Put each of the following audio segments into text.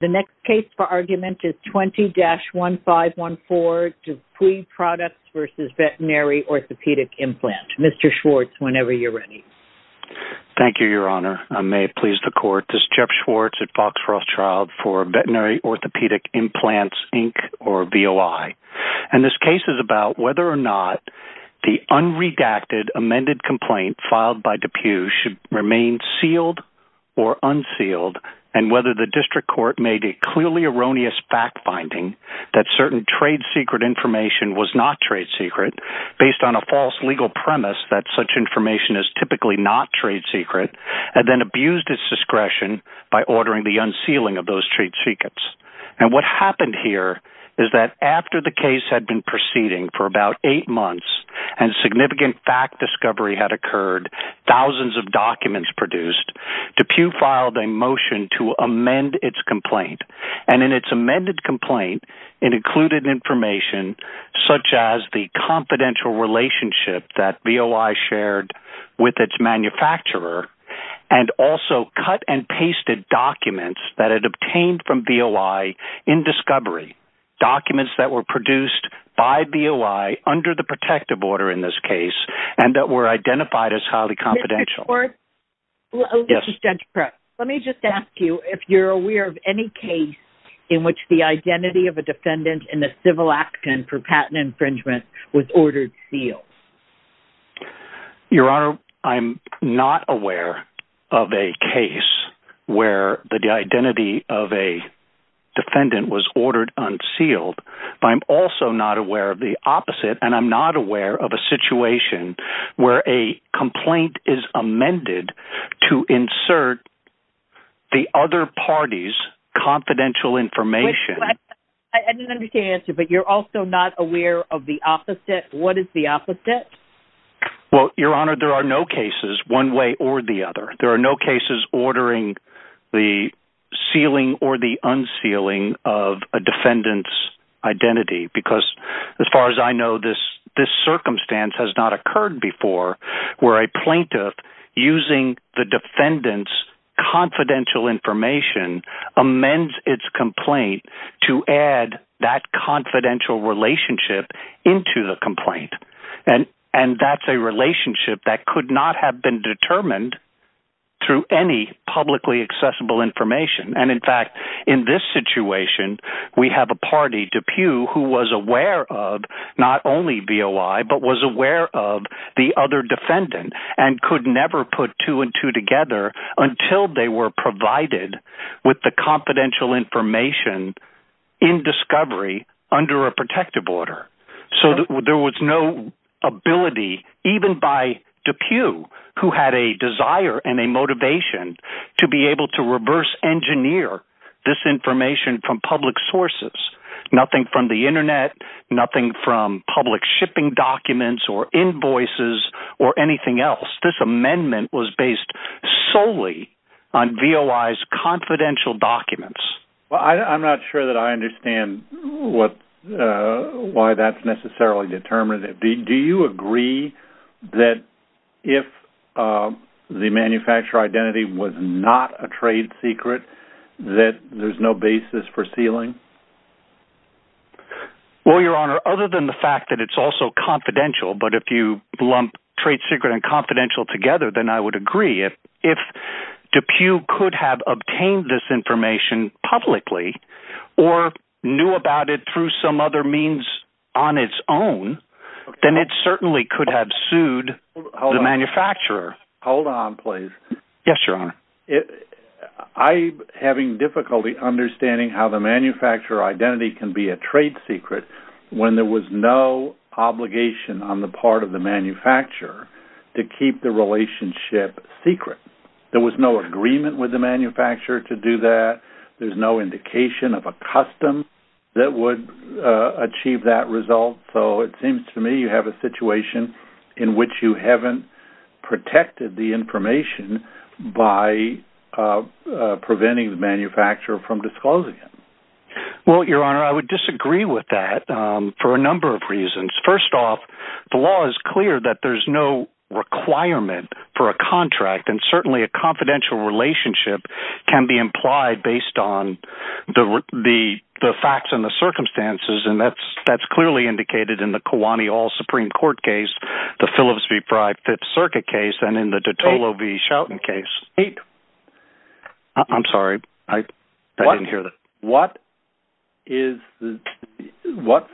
The next case for argument is 20-1514, DePuy Products v. Veterinary Orthopedic Implant. Mr. Schwartz, whenever you're ready. Thank you, Your Honor. I may please the Court. This is Jeff Schwartz at Fox Rothschild for Veterinary Orthopedic Implants, Inc. or VOI. And this case is about whether or not the unredacted amended complaint filed by DePuy should remain sealed or unsealed, and whether the District Court made a clearly erroneous fact-finding that certain trade-secret information was not trade-secret, based on a false legal premise that such information is typically not trade-secret, and then abused its discretion by ordering the unsealing of those trade-secrets. And what happened here is that after the case had been proceeding for about eight months, and significant fact-discovery had occurred, thousands of documents produced, DePuy filed a motion to amend its complaint. And in its amended complaint, it included information such as the confidential relationship that VOI shared with its manufacturer, and also cut-and-pasted documents that it obtained from VOI in discovery, documents that were produced by VOI under the protective order in this case, and that were identified as highly confidential. Mr. Stenchpress, let me just ask you if you're aware of any case in which the identity of a defendant in a civil action for patent infringement was ordered sealed. Your Honor, I'm not aware of a case where the identity of a defendant was ordered unsealed, but I'm also not aware of the opposite, and I'm not aware of a situation where a complaint is amended to insert the other party's confidential information. I didn't understand your answer, but you're also not aware of the opposite? What is the opposite? Well, Your Honor, there are no cases one way or the other. There are no cases ordering the sealing or the unsealing of a defendant's identity, because as far as I know, this circumstance has not occurred before where a plaintiff, using the defendant's confidential information, amends its complaint to add that confidential relationship into the complaint. And that's a relationship that could not have been determined through any publicly accessible information. And in fact, in this situation, we have a party, DePue, who was aware of not only VOI, but was aware of the other defendant and could never put two and two together until they were provided with the confidential information in discovery under a protective order. So there was no ability, even by DePue, who had a desire and a motivation to be able to reverse engineer this information from public sources. Nothing from the Internet, nothing from public shipping documents or invoices or anything else. This amendment was based solely on VOI's confidential documents. Well, I'm not sure that I understand why that's necessarily determinative. Do you agree that if the manufacturer identity was not a trade secret, that there's no basis for sealing? Well, Your Honor, other than the fact that it's also confidential, but if you lump trade secret and confidential together, then I would agree. If DePue could have obtained this information publicly or knew about it through some other means on its own, then it certainly could have sued the manufacturer. Hold on, please. Yes, Your Honor. I'm having difficulty understanding how the manufacturer identity can be a trade secret when there was no obligation on the part of the manufacturer to keep the relationship secret. There was no agreement with the manufacturer to do that. There's no indication of a custom that would achieve that result. So it seems to me you have a situation in which you haven't protected the information by preventing the manufacturer from disclosing it. Well, Your Honor, I would disagree with that for a number of reasons. First off, the law is clear that there's no requirement for a contract, and certainly a confidential relationship can be implied based on the facts and the circumstances, and that's clearly indicated in the Kiwani All-Supreme Court case, the Phillips v. Pryde Fifth Circuit case, and in the Dottolo v. Shelton case. Wait. I'm sorry. I didn't hear that. What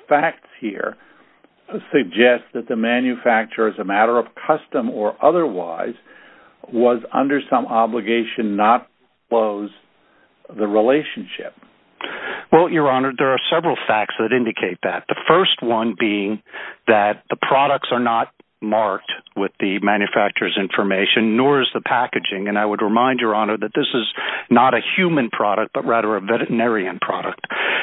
facts here suggest that the manufacturer, as a matter of custom or otherwise, was under some obligation not to disclose the relationship? Well, Your Honor, there are several facts that indicate that, the first one being that the products are not marked with the manufacturer's information, nor is the packaging, and I would remind Your Honor that this is not a human product, but rather a veterinarian product.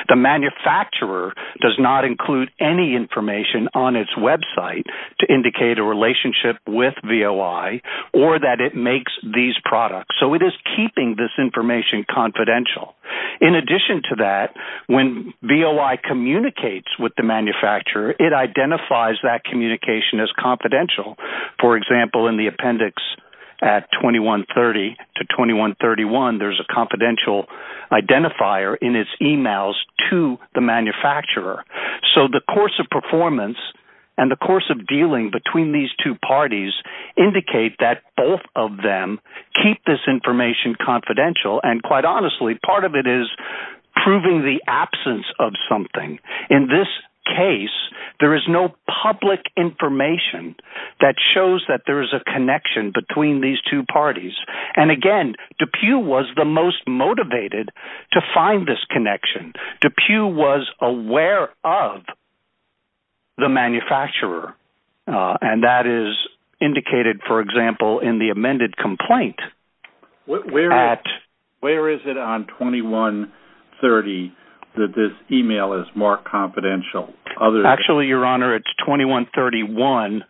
The manufacturer does not include any information on its website to indicate a relationship with VOI or that it makes these products, so it is keeping this information confidential. In addition to that, when VOI communicates with the manufacturer, it identifies that communication as confidential. For example, in the appendix at 2130 to 2131, there's a confidential identifier in its emails to the manufacturer. So the course of performance and the course of dealing between these two parties indicate that both of them keep this information confidential, and quite honestly, part of it is proving the absence of something. In this case, there is no public information that shows that there is a connection between these two parties. And again, DePue was the most motivated to find this connection. DePue was aware of the manufacturer, and that is indicated, for example, in the amended complaint. Where is it on 2130 that this email is more confidential? Actually, Your Honor, it's 2131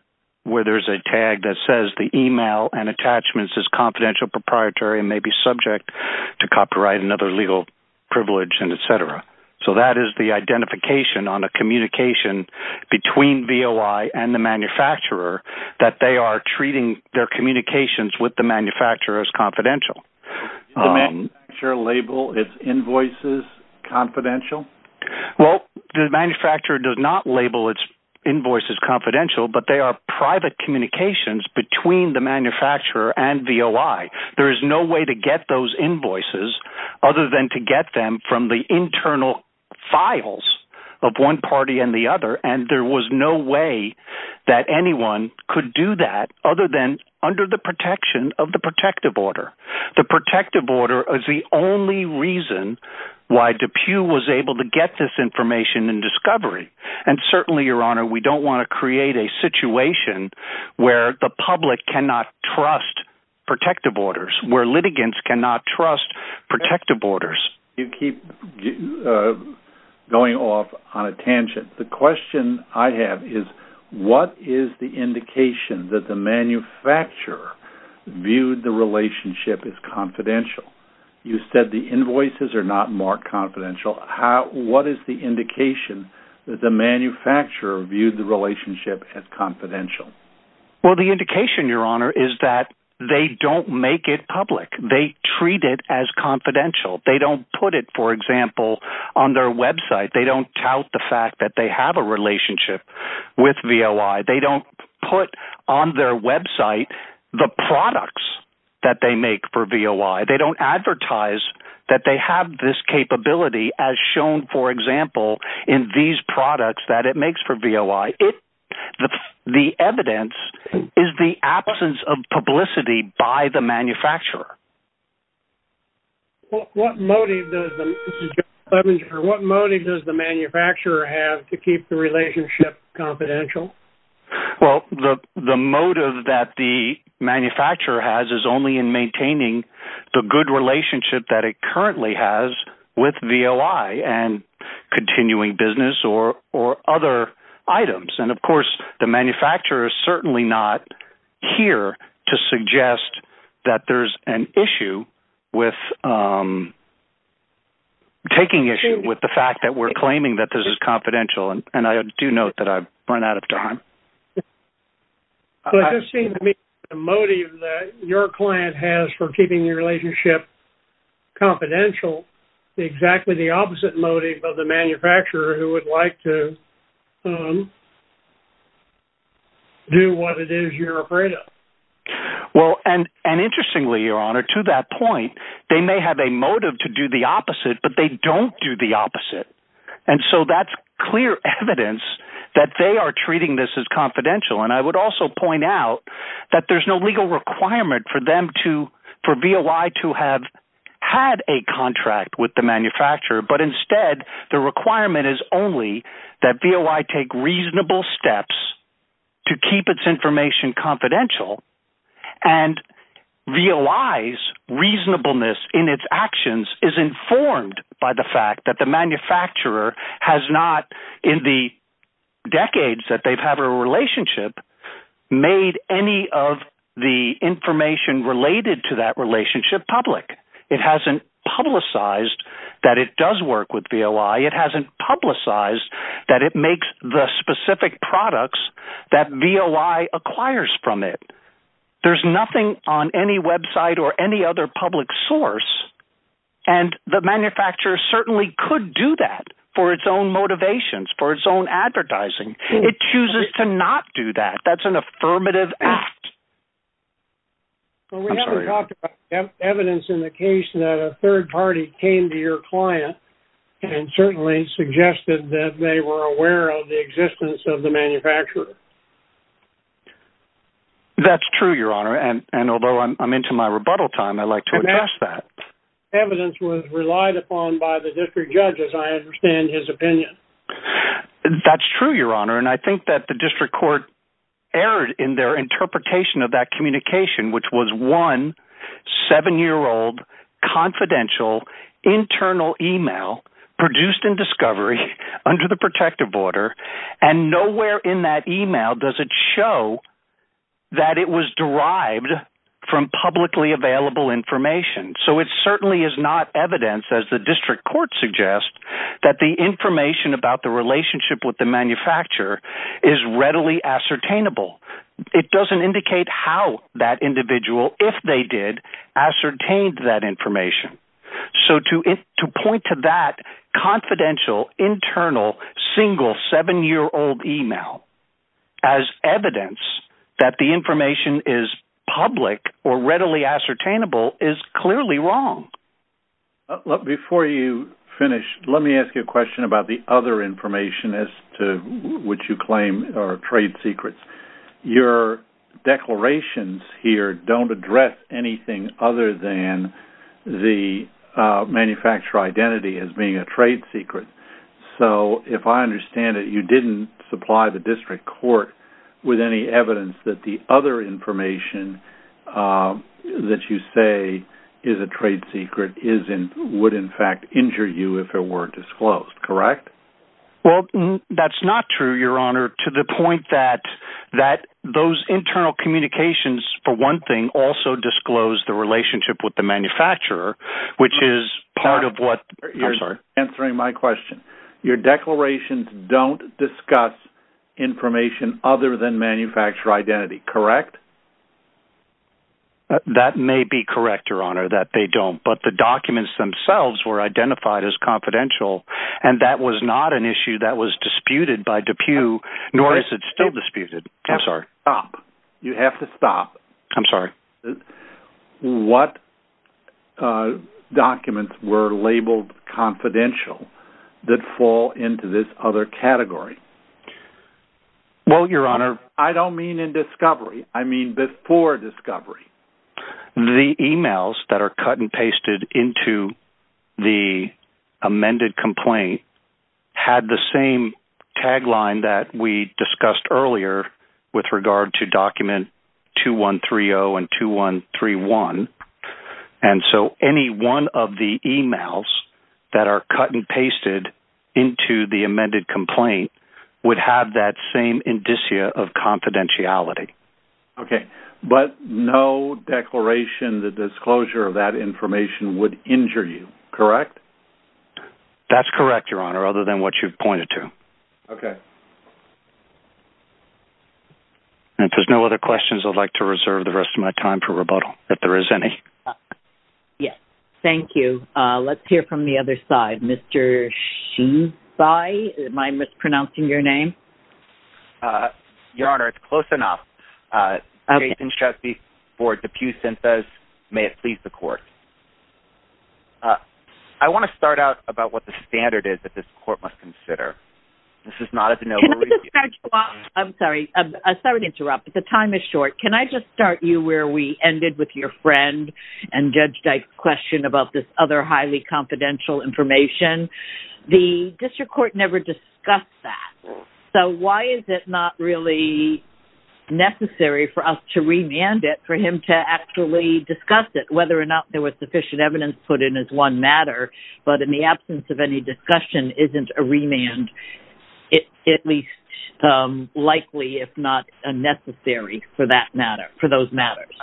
where there's a tag that says the email and attachments is confidential, proprietary, and may be subject to copyright and other legal privilege, and et cetera. So that is the identification on a communication between VOI and the manufacturer that they are treating their communications with the manufacturer as confidential. Does the manufacturer label its invoices confidential? Well, the manufacturer does not label its invoices confidential, but they are private communications between the manufacturer and VOI. There is no way to get those invoices other than to get them from the internal files of one party and the other, and there was no way that anyone could do that other than under the protection of the protective order. The protective order is the only reason why DePue was able to get this information and discovery. And certainly, Your Honor, we don't want to create a situation where the public cannot trust protective orders, where litigants cannot trust protective orders. You keep going off on a tangent. The question I have is what is the indication that the manufacturer viewed the relationship as confidential? You said the invoices are not marked confidential. What is the indication that the manufacturer viewed the relationship as confidential? Well, the indication, Your Honor, is that they don't make it public. They treat it as confidential. They don't put it, for example, on their website. They don't tout the fact that they have a relationship with VOI. They don't put on their website the products that they make for VOI. They don't advertise that they have this capability as shown, for example, in these products that it makes for VOI. The evidence is the absence of publicity by the manufacturer. What motive does the manufacturer have to keep the relationship confidential? Well, the motive that the manufacturer has is only in maintaining the good relationship that it currently has with VOI and continuing business or other items. And, of course, the manufacturer is certainly not here to suggest that there's an issue with taking issue with the fact that we're claiming that this is confidential. And I do note that I've run out of time. Well, it just seems to me that the motive that your client has for keeping your relationship confidential is exactly the opposite motive of the manufacturer who would like to do what it is you're afraid of. Well, and interestingly, Your Honor, to that point, they may have a motive to do the opposite, but they don't do the opposite. And so that's clear evidence that they are treating this as confidential. And I would also point out that there's no legal requirement for VOI to have had a contract with the manufacturer, but instead the requirement is only that VOI take reasonable steps to keep its information confidential and VOI's reasonableness in its actions is informed by the fact that the manufacturer has not, in the decades that they've had a relationship, made any of the information related to that relationship public. It hasn't publicized that it does work with VOI. It hasn't publicized that it makes the specific products that VOI acquires from it. There's nothing on any website or any other public source, and the manufacturer certainly could do that for its own motivations, for its own advertising. It chooses to not do that. That's an affirmative act. Well, we haven't talked about evidence in the case that a third party came to your client and certainly suggested that they were aware of the existence of the manufacturer. That's true, Your Honor, and although I'm into my rebuttal time, I'd like to address that. Evidence was relied upon by the district judge, as I understand his opinion. That's true, Your Honor, and I think that the district court erred in their interpretation of that communication, which was one seven-year-old confidential internal email produced in discovery under the protective order, and nowhere in that email does it show that it was derived from publicly available information. So it certainly is not evidence, as the district court suggests, that the information about the relationship with the manufacturer is readily ascertainable. It doesn't indicate how that individual, if they did, ascertained that information. So to point to that confidential internal single seven-year-old email as evidence that the information is public or readily ascertainable is clearly wrong. Before you finish, let me ask you a question about the other information as to which you claim are trade secrets. Your declarations here don't address anything other than the manufacturer identity as being a trade secret. So if I understand it, you didn't supply the district court with any evidence that the other information that you say is a trade secret would, in fact, injure you if it were disclosed, correct? Well, that's not true, Your Honor, to the point that those internal communications, for one thing, disclose the relationship with the manufacturer, which is part of what you're answering my question. Your declarations don't discuss information other than manufacturer identity, correct? That may be correct, Your Honor, that they don't, but the documents themselves were identified as confidential, and that was not an issue that was disputed by DePue, nor is it still disputed. You have to stop. I'm sorry? What documents were labeled confidential that fall into this other category? Well, Your Honor... I don't mean in discovery. I mean before discovery. The emails that are cut and pasted into the amended complaint had the same tagline that we discussed earlier with regard to document 2130 and 2131, and so any one of the emails that are cut and pasted into the amended complaint would have that same indicia of confidentiality. Okay, but no declaration, the disclosure of that information would injure you, correct? That's correct, Your Honor, other than what you've pointed to. Okay. And if there's no other questions, I'd like to reserve the rest of my time for rebuttal, if there is any. Yes, thank you. Let's hear from the other side. Mr. Shinsai, am I mispronouncing your name? Your Honor, it's close enough. Jason Chesby for DePue Synthesis. May it please the court. I want to start out about what the standard is that this court must consider. Can I just start you off? I'm sorry, I started to interrupt, but the time is short. Can I just start you where we ended with your friend and Judge Dyke's question about this other highly confidential information? The district court never discussed that. So why is it not really necessary for us to remand it for him to actually discuss it, whether or not there was sufficient evidence put in as one matter, but in the absence of any discussion, isn't a remand at least likely, if not unnecessary for that matter, for those matters?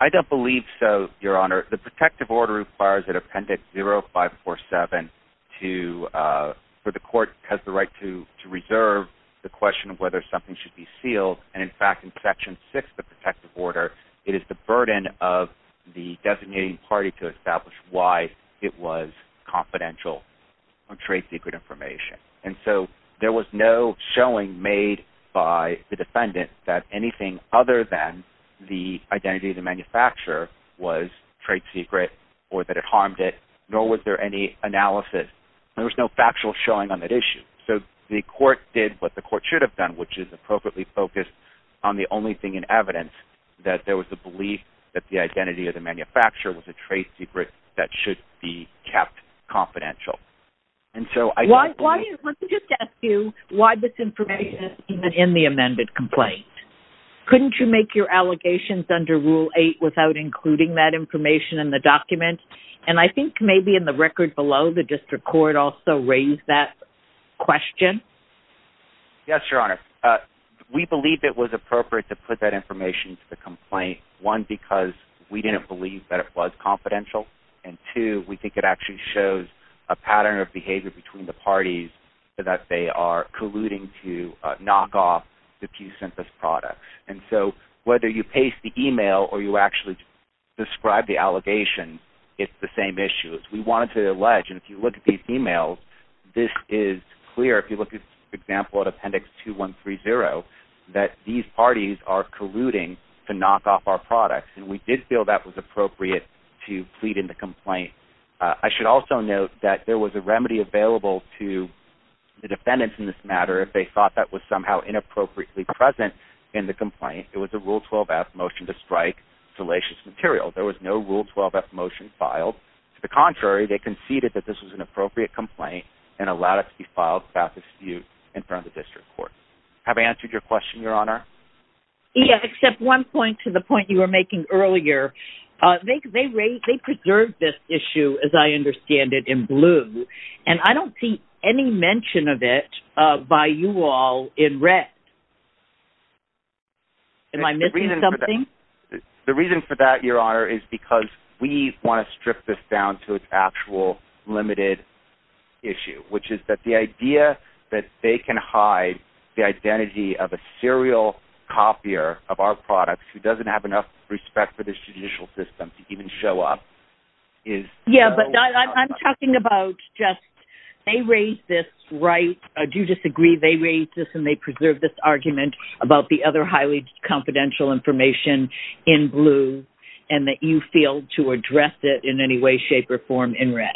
I don't believe so, Your Honor. The protective order requires that Appendix 0547 for the court has the right to reserve the question of whether something should be sealed. And in fact, in Section 6 of the protective order, it is the burden of the designating party to establish why it was confidential or trade secret information. And so there was no showing made by the defendant that anything other than the identity of the manufacturer was trade secret or that it harmed it, nor was there any analysis. There was no factual showing on that issue. So the court did what the court should have done, which is appropriately focus on the only thing in evidence, that there was a belief that the identity of the manufacturer was a trade secret that should be kept confidential. Let me just ask you why this information isn't in the amended complaint. Couldn't you make your allegations under Rule 8 without including that information in the document? And I think maybe in the record below, the district court also raised that question. Yes, Your Honor. We believe it was appropriate to put that information into the complaint, one, because we didn't believe that it was confidential, and two, we think it actually shows a pattern of behavior between the parties that they are colluding to knock off the Q-Synthesis products. And so whether you paste the email or you actually describe the allegation, it's the same issue. We wanted to allege, and if you look at these emails, this is clear. If you look at, for example, Appendix 2130, that these parties are colluding to knock off our products, and we did feel that was appropriate to plead in the complaint. I should also note that there was a remedy available to the defendants in this matter if they thought that was somehow inappropriately present in the complaint. It was a Rule 12-F motion to strike salacious material. There was no Rule 12-F motion filed. To the contrary, they conceded that this was an appropriate complaint and allowed it to be filed without dispute in front of the district court. Have I answered your question, Your Honor? Yes, except one point to the point you were making earlier. They preserved this issue, as I understand it, in blue, and I don't see any mention of it by you all in red. Am I missing something? The reason for that, Your Honor, is because we want to strip this down to its actual limited issue, which is that the idea that they can hide the identity of a serial copier of our products who doesn't have enough respect for the judicial system to even show up is so wrong. Yes, but I'm talking about just they raised this right. I do disagree. They raised this and they preserved this argument about the other highly confidential information in blue and that you failed to address it in any way, shape, or form in red.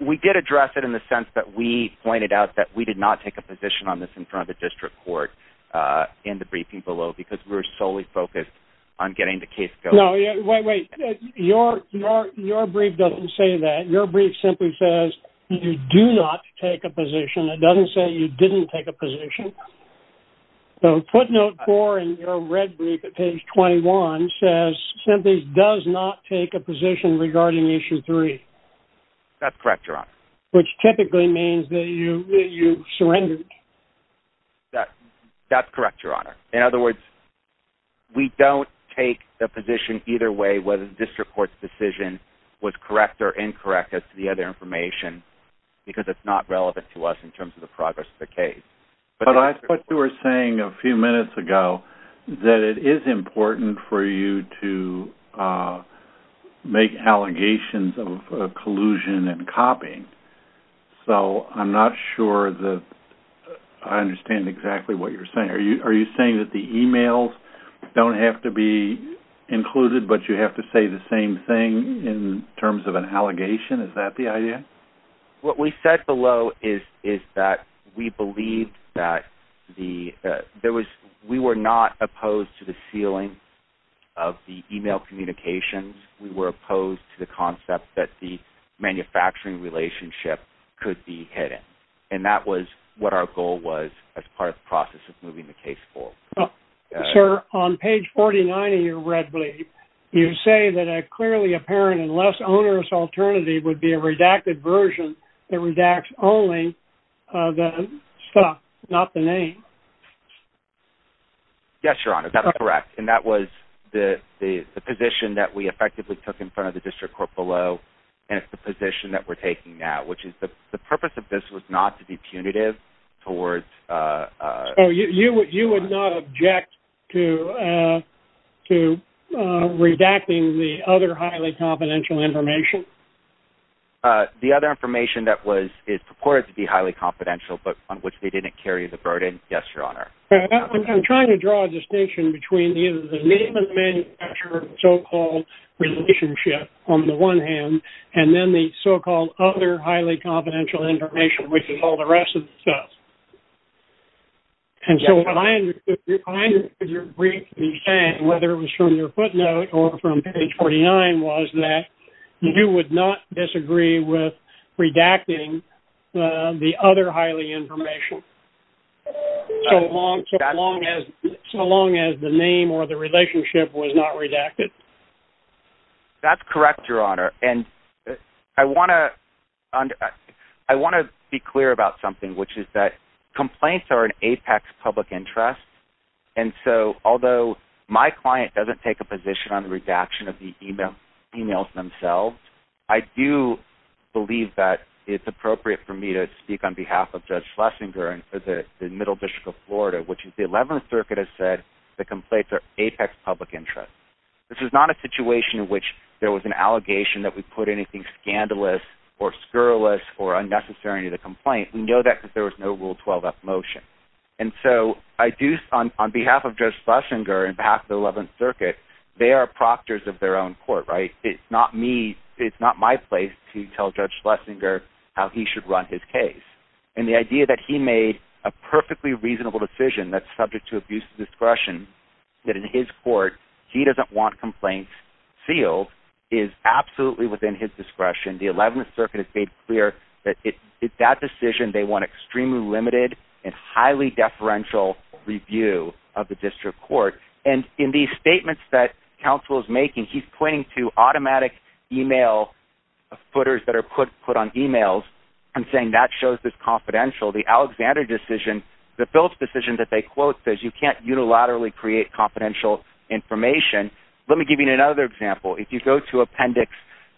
We did address it in the sense that we pointed out that we did not take a position on this in front of the district court in the briefing below because we were solely focused on getting the case going. No, wait, wait. Your brief doesn't say that. Your brief simply says you do not take a position. It doesn't say you didn't take a position. So footnote 4 in your red brief at page 21 says, simply, does not take a position regarding issue 3. That's correct, Your Honor. Which typically means that you surrendered. That's correct, Your Honor. In other words, we don't take a position either way whether the district court's decision was correct or incorrect as to the other information because it's not relevant to us in terms of the progress of the case. But I thought you were saying a few minutes ago that it is important for you to make allegations of collusion and copying. So I'm not sure that I understand exactly what you're saying. Are you saying that the e-mails don't have to be included, but you have to say the same thing in terms of an allegation? Is that the idea? What we said below is that we believed that we were not opposed to the sealing of the e-mail communications. We were opposed to the concept that the manufacturing relationship could be hidden, and that was what our goal was as part of the process of moving the case forward. Sir, on page 49 of your red brief, you say that a clearly apparent and less onerous alternative would be a redacted version that redacts only the stuff, not the name. Yes, Your Honor. That's correct, and that was the position that we effectively took in front of the district court below, and it's the position that we're taking now, which is the purpose of this was not to be punitive towards... So you would not object to redacting the other highly confidential information? The other information that is purported to be highly confidential, but on which they didn't carry the burden, yes, Your Honor. I'm trying to draw a distinction between the name of the manufacturer and the so-called relationship on the one hand, and then the so-called other highly confidential information, which is all the rest of the stuff. And so what I understood your brief to be saying, whether it was from your footnote or from page 49, was that you would not disagree with redacting the other highly information. So long as the name or the relationship was not redacted? That's correct, Your Honor, and I want to be clear about something, which is that complaints are an apex public interest, and so although my client doesn't take a position on the redaction of the emails themselves, I do believe that it's appropriate for me to speak on behalf of Judge Schlesinger and the Middle District of Florida, which the Eleventh Circuit has said the complaints are apex public interest. This is not a situation in which there was an allegation that we put anything scandalous or scurrilous or unnecessary in the complaint. We know that because there was no Rule 12-F motion. And so on behalf of Judge Schlesinger and on behalf of the Eleventh Circuit, they are proctors of their own court, right? It's not my place to tell Judge Schlesinger how he should run his case. And the idea that he made a perfectly reasonable decision that's subject to abuse of discretion, that in his court he doesn't want complaints sealed, is absolutely within his discretion. The Eleventh Circuit has made clear that in that decision they want extremely limited and highly deferential review of the district court. And in these statements that counsel is making, he's pointing to automatic email footers that are put on emails and saying that shows this confidentiality. The Alexander decision, the Phillips decision that they quote says you can't unilaterally create confidential information. Let me give you another example. If you go to Appendix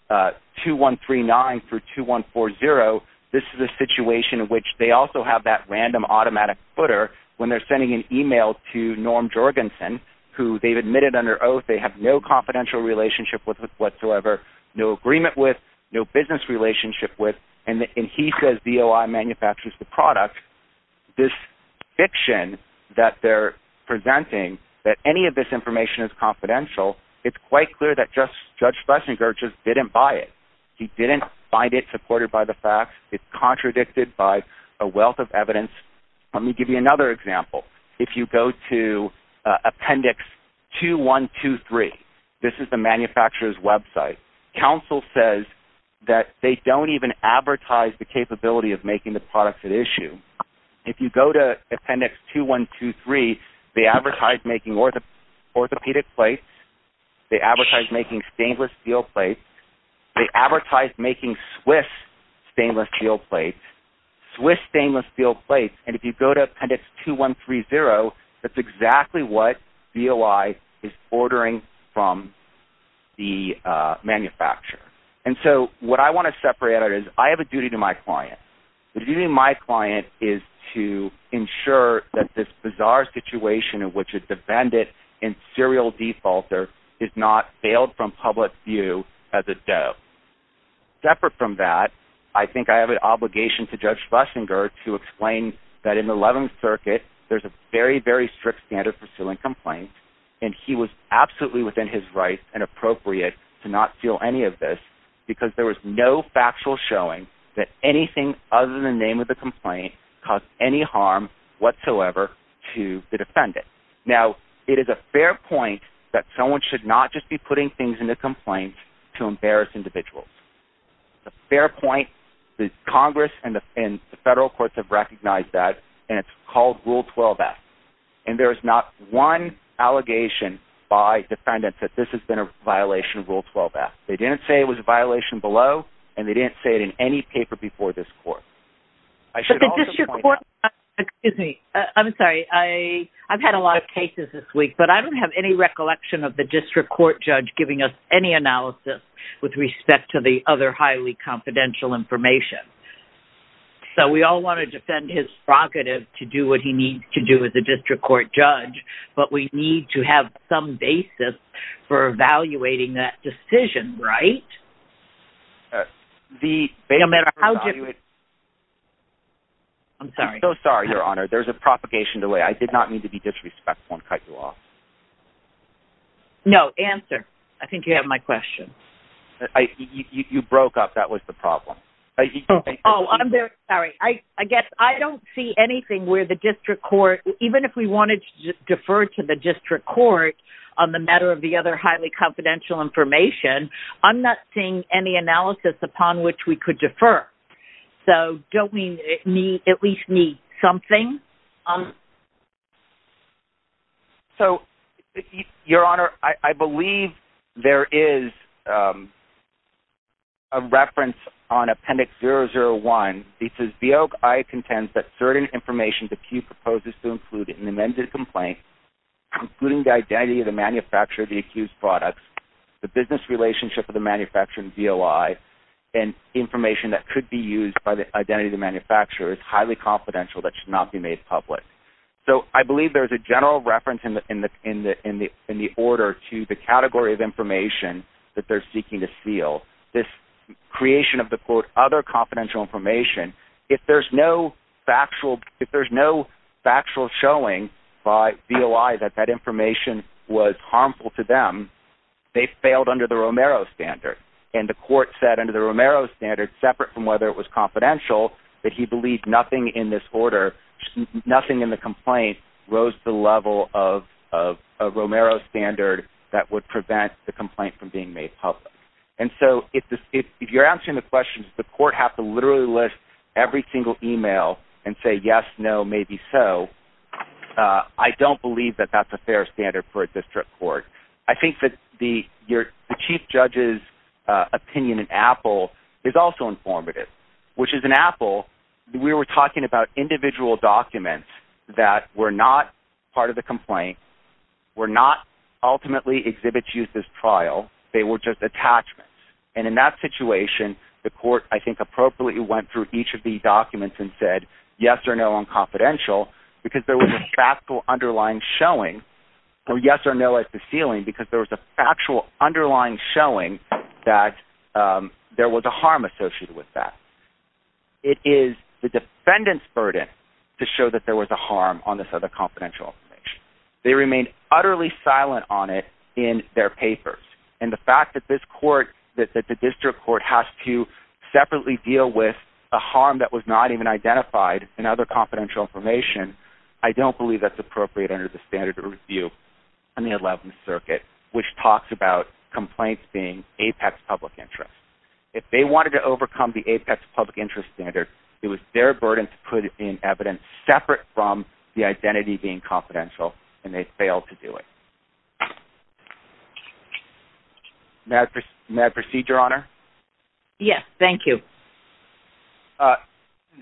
2139 through 2140, this is a situation in which they also have that random automatic footer when they're sending an email to Norm Jorgensen who they've admitted under oath they have no confidential relationship with whatsoever, no agreement with, no business relationship with, and he says DOI manufactures the product. This fiction that they're presenting that any of this information is confidential, it's quite clear that Judge Schlesinger just didn't buy it. He didn't find it supported by the facts. It's contradicted by a wealth of evidence. Let me give you another example. If you go to Appendix 2123, this is the manufacturer's website, counsel says that they don't even advertise the capability of making the products at issue. If you go to Appendix 2123, they advertise making orthopedic plates. They advertise making stainless steel plates. They advertise making Swiss stainless steel plates. Swiss stainless steel plates, and if you go to Appendix 2130, that's exactly what DOI is ordering from the manufacturer. And so what I want to separate out is I have a duty to my client. The duty of my client is to ensure that this bizarre situation in which it's defended in serial defaulter Separate from that, I think I have an obligation to Judge Schlesinger to explain that in the 11th Circuit, there's a very, very strict standard for suing complaints, and he was absolutely within his rights and appropriate to not sue any of this because there was no factual showing that anything other than the name of the complaint caused any harm whatsoever to the defendant. Now, it is a fair point that someone should not just be putting things in the complaint to embarrass individuals. It's a fair point. Congress and the federal courts have recognized that, and it's called Rule 12-F. And there is not one allegation by defendants that this has been a violation of Rule 12-F. They didn't say it was a violation below, and they didn't say it in any paper before this court. But the district court... Excuse me. I'm sorry. I've had a lot of cases this week, but I don't have any recollection of the district court judge giving us any analysis with respect to the other highly confidential information. So we all want to defend his prerogative to do what he needs to do as a district court judge, but we need to have some basis for evaluating that decision, right? The... I'm sorry. I'm so sorry, Your Honor. There's a propagation delay. I did not mean to be disrespectful and cut you off. No. Answer. I think you have my question. You broke up. That was the problem. Oh, I'm very sorry. I guess I don't see anything where the district court... Even if we wanted to defer to the district court on the matter of the other highly confidential information, I'm not seeing any analysis upon which we could defer. So don't we at least need something? So, Your Honor, I believe there is a reference on Appendix 001. It says, Beogai contends that certain information the accused proposes to include in the amended complaint, including the identity of the manufacturer of the accused products, the business relationship of the manufacturer and DOI, and information that could be used by the identity of the manufacturer is highly confidential that should not be made public. So I believe there's a general reference in the order to the category of information that they're seeking to seal. This creation of the quote other confidential information, if there's no factual showing by DOI that that information was harmful to them, they failed under the Romero standard. And the court said under the Romero standard, separate from whether it was confidential, that he believed nothing in this order, nothing in the complaint, rose to the level of a Romero standard that would prevent the complaint from being made public. And so if you're answering the question, does the court have to literally list every single email and say yes, no, maybe so, I don't believe that that's a fair standard for a district court. I think that the chief judge's opinion in Apple is also informative, which is in Apple, we were talking about individual documents that were not part of the complaint, were not ultimately exhibits used as trial, they were just attachments. And in that situation, the court, I think, appropriately went through each of these documents and said yes or no on confidential, because there was a factual underlying showing, or yes or no at the ceiling, because there was a factual underlying showing that there was a harm associated with that. It is the defendant's burden to show that there was a harm on this other confidential information. They remained utterly silent on it in their papers. And the fact that this court, that the district court has to separately deal with a harm that was not even identified in other confidential information, I don't believe that's appropriate under the standard of review in the 11th Circuit, which talks about complaints being Apex public interest. If they wanted to overcome the Apex public interest standard, it was their burden to put in evidence separate from the identity being confidential, and they failed to do it. May I proceed, Your Honor? Yes, thank you.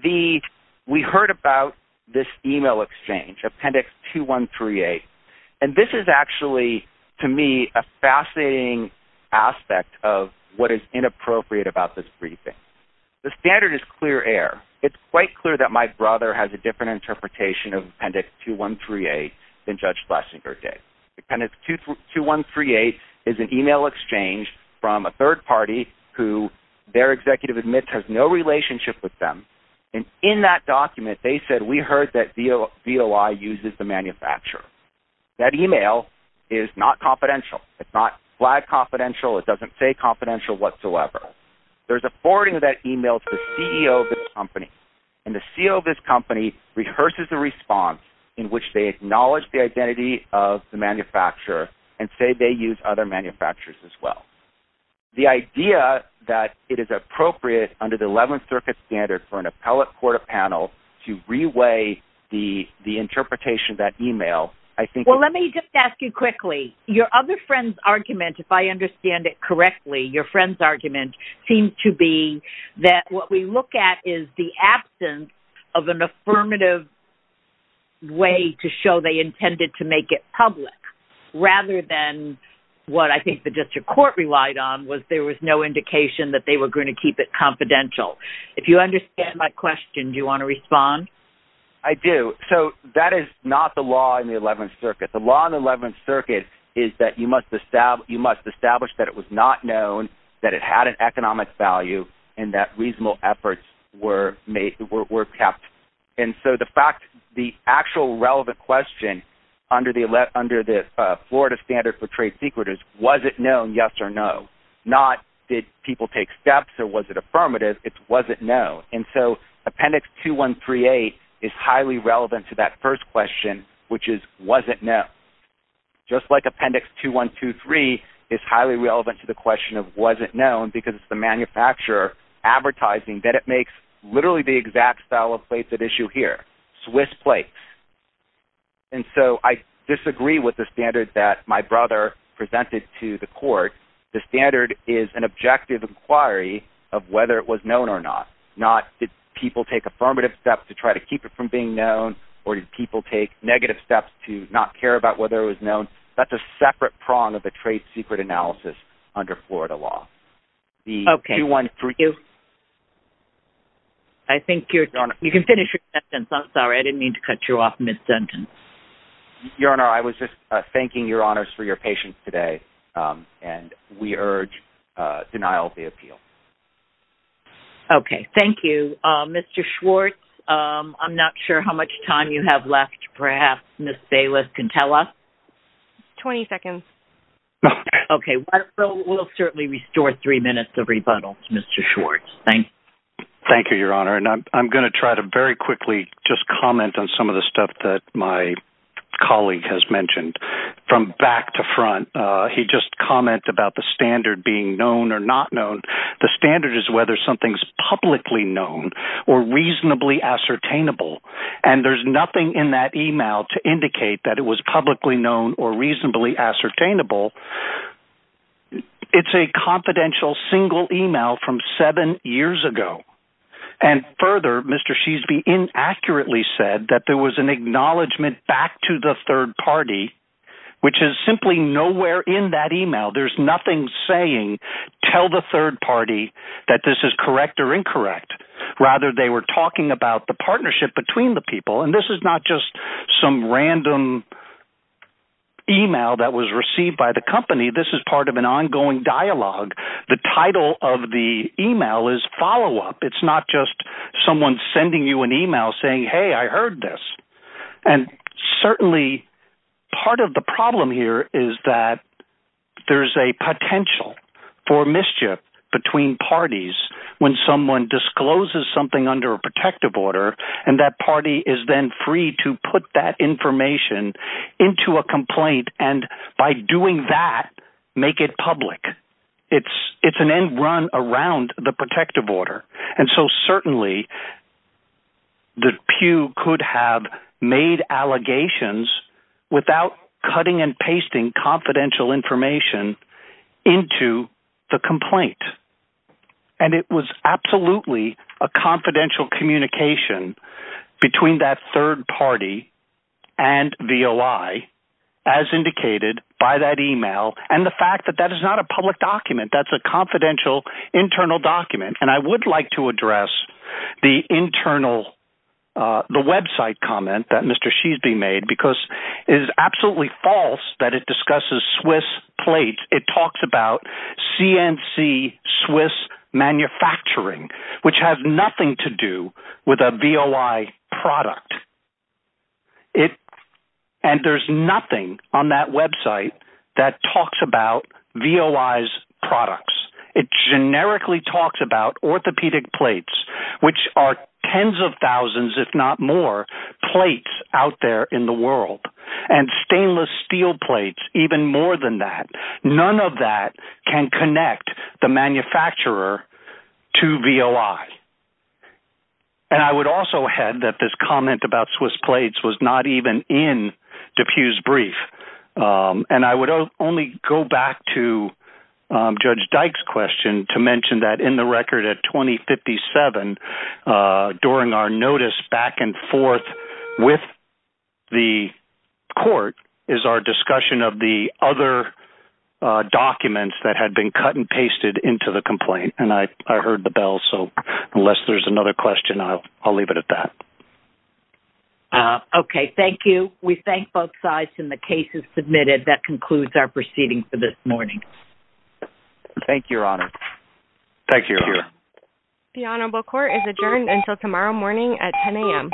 We heard about this email exchange, Appendix 2138, and this is actually, to me, a fascinating aspect of what is inappropriate about this briefing. The standard is clear air. It's quite clear that my brother has a different interpretation of Appendix 2138 than Judge Flesinger did. Appendix 2138 is an email exchange from a third party who their executive admits has no relationship with them, and in that document they said, we heard that VOI uses the manufacturer. That email is not confidential. It's not flag confidential. It doesn't say confidential whatsoever. There's a forwarding of that email to the CEO of this company, and the CEO of this company rehearses the response in which they acknowledge the identity of the manufacturer and say they use other manufacturers as well. The idea that it is appropriate under the Eleventh Circuit standard for an appellate court of panel to reweigh the interpretation of that email, I think… Well, let me just ask you quickly. Your other friend's argument, if I understand it correctly, your friend's argument seemed to be that what we look at is the absence of an affirmative way to show they intended to make it public rather than what I think the district court relied on was there was no indication that they were going to keep it confidential. If you understand my question, do you want to respond? I do. So that is not the law in the Eleventh Circuit. The law in the Eleventh Circuit is that you must establish that it was not known that it had an economic value and that reasonable efforts were kept. And so the fact, the actual relevant question under the Florida standard for trade secretaries, was it known, yes or no? Not did people take steps or was it affirmative? It's was it known? And so Appendix 2138 is highly relevant to that first question, which is was it known? Just like Appendix 2123 is highly relevant to the question of was it known because the manufacturer advertising that it makes literally the exact style of plates at issue here, Swiss plates. And so I disagree with the standard that my brother presented to the court. The standard is an objective inquiry of whether it was known or not, not did people take affirmative steps to try to keep it from being known or did people take negative steps to not care about whether it was known. That's a separate prong of the trade secret analysis under Florida law. Okay, thank you. I think you can finish your sentence. I'm sorry, I didn't mean to cut you off, Ms. Dunton. Your Honor, I was just thanking your honors for your patience today and we urge denial of the appeal. Okay, thank you. Mr. Schwartz, I'm not sure how much time you have left. Perhaps Ms. Bayless can tell us. Twenty seconds. Okay, we'll certainly restore three minutes of rebuttal to Mr. Schwartz. Thank you. Thank you, Your Honor. And I'm going to try to very quickly just comment on some of the stuff that my colleague has mentioned from back to front. He just commented about the standard being known or not known. The standard is whether something is publicly known or reasonably ascertainable, and there's nothing in that email to indicate that it was publicly known or reasonably ascertainable. It's a confidential single email from seven years ago. And further, Mr. Sheesby inaccurately said that there was an acknowledgement back to the third party, which is simply nowhere in that email. There's nothing saying tell the third party that this is correct or incorrect. Rather, they were talking about the partnership between the people. And this is not just some random email that was received by the company. This is part of an ongoing dialogue. The title of the email is follow-up. It's not just someone sending you an email saying, hey, I heard this. And certainly part of the problem here is that there's a potential for mischief between parties when someone discloses something under a protective order and that party is then free to put that information into a complaint and by doing that make it public. It's an end run around the protective order. And so certainly the pew could have made allegations without cutting and pasting confidential information into the complaint. And it was absolutely a confidential communication between that third party and VOI as indicated by that email and the fact that that is not a public document. That's a confidential internal document. And I would like to address the internal website comment that Mr. Sheesby made because it is absolutely false that it discusses Swiss plates. It talks about CNC Swiss manufacturing, which has nothing to do with a VOI product. And there's nothing on that website that talks about VOI's products. It generically talks about orthopedic plates, which are tens of thousands, if not more, plates out there in the world, and stainless steel plates even more than that. None of that can connect the manufacturer to VOI. And I would also add that this comment about Swiss plates was not even in DePuy's brief. And I would only go back to Judge Dyke's question to mention that in the record at 2057, during our notice back and forth with the court is our discussion of the other documents that had been cut and pasted into the complaint. And I heard the bell, so unless there's another question, I'll leave it at that. Okay, thank you. We thank both sides in the cases submitted. That concludes our proceeding for this morning. Thank you, Your Honor. Thank you, Your Honor. The honorable court is adjourned until tomorrow morning at 10 a.m.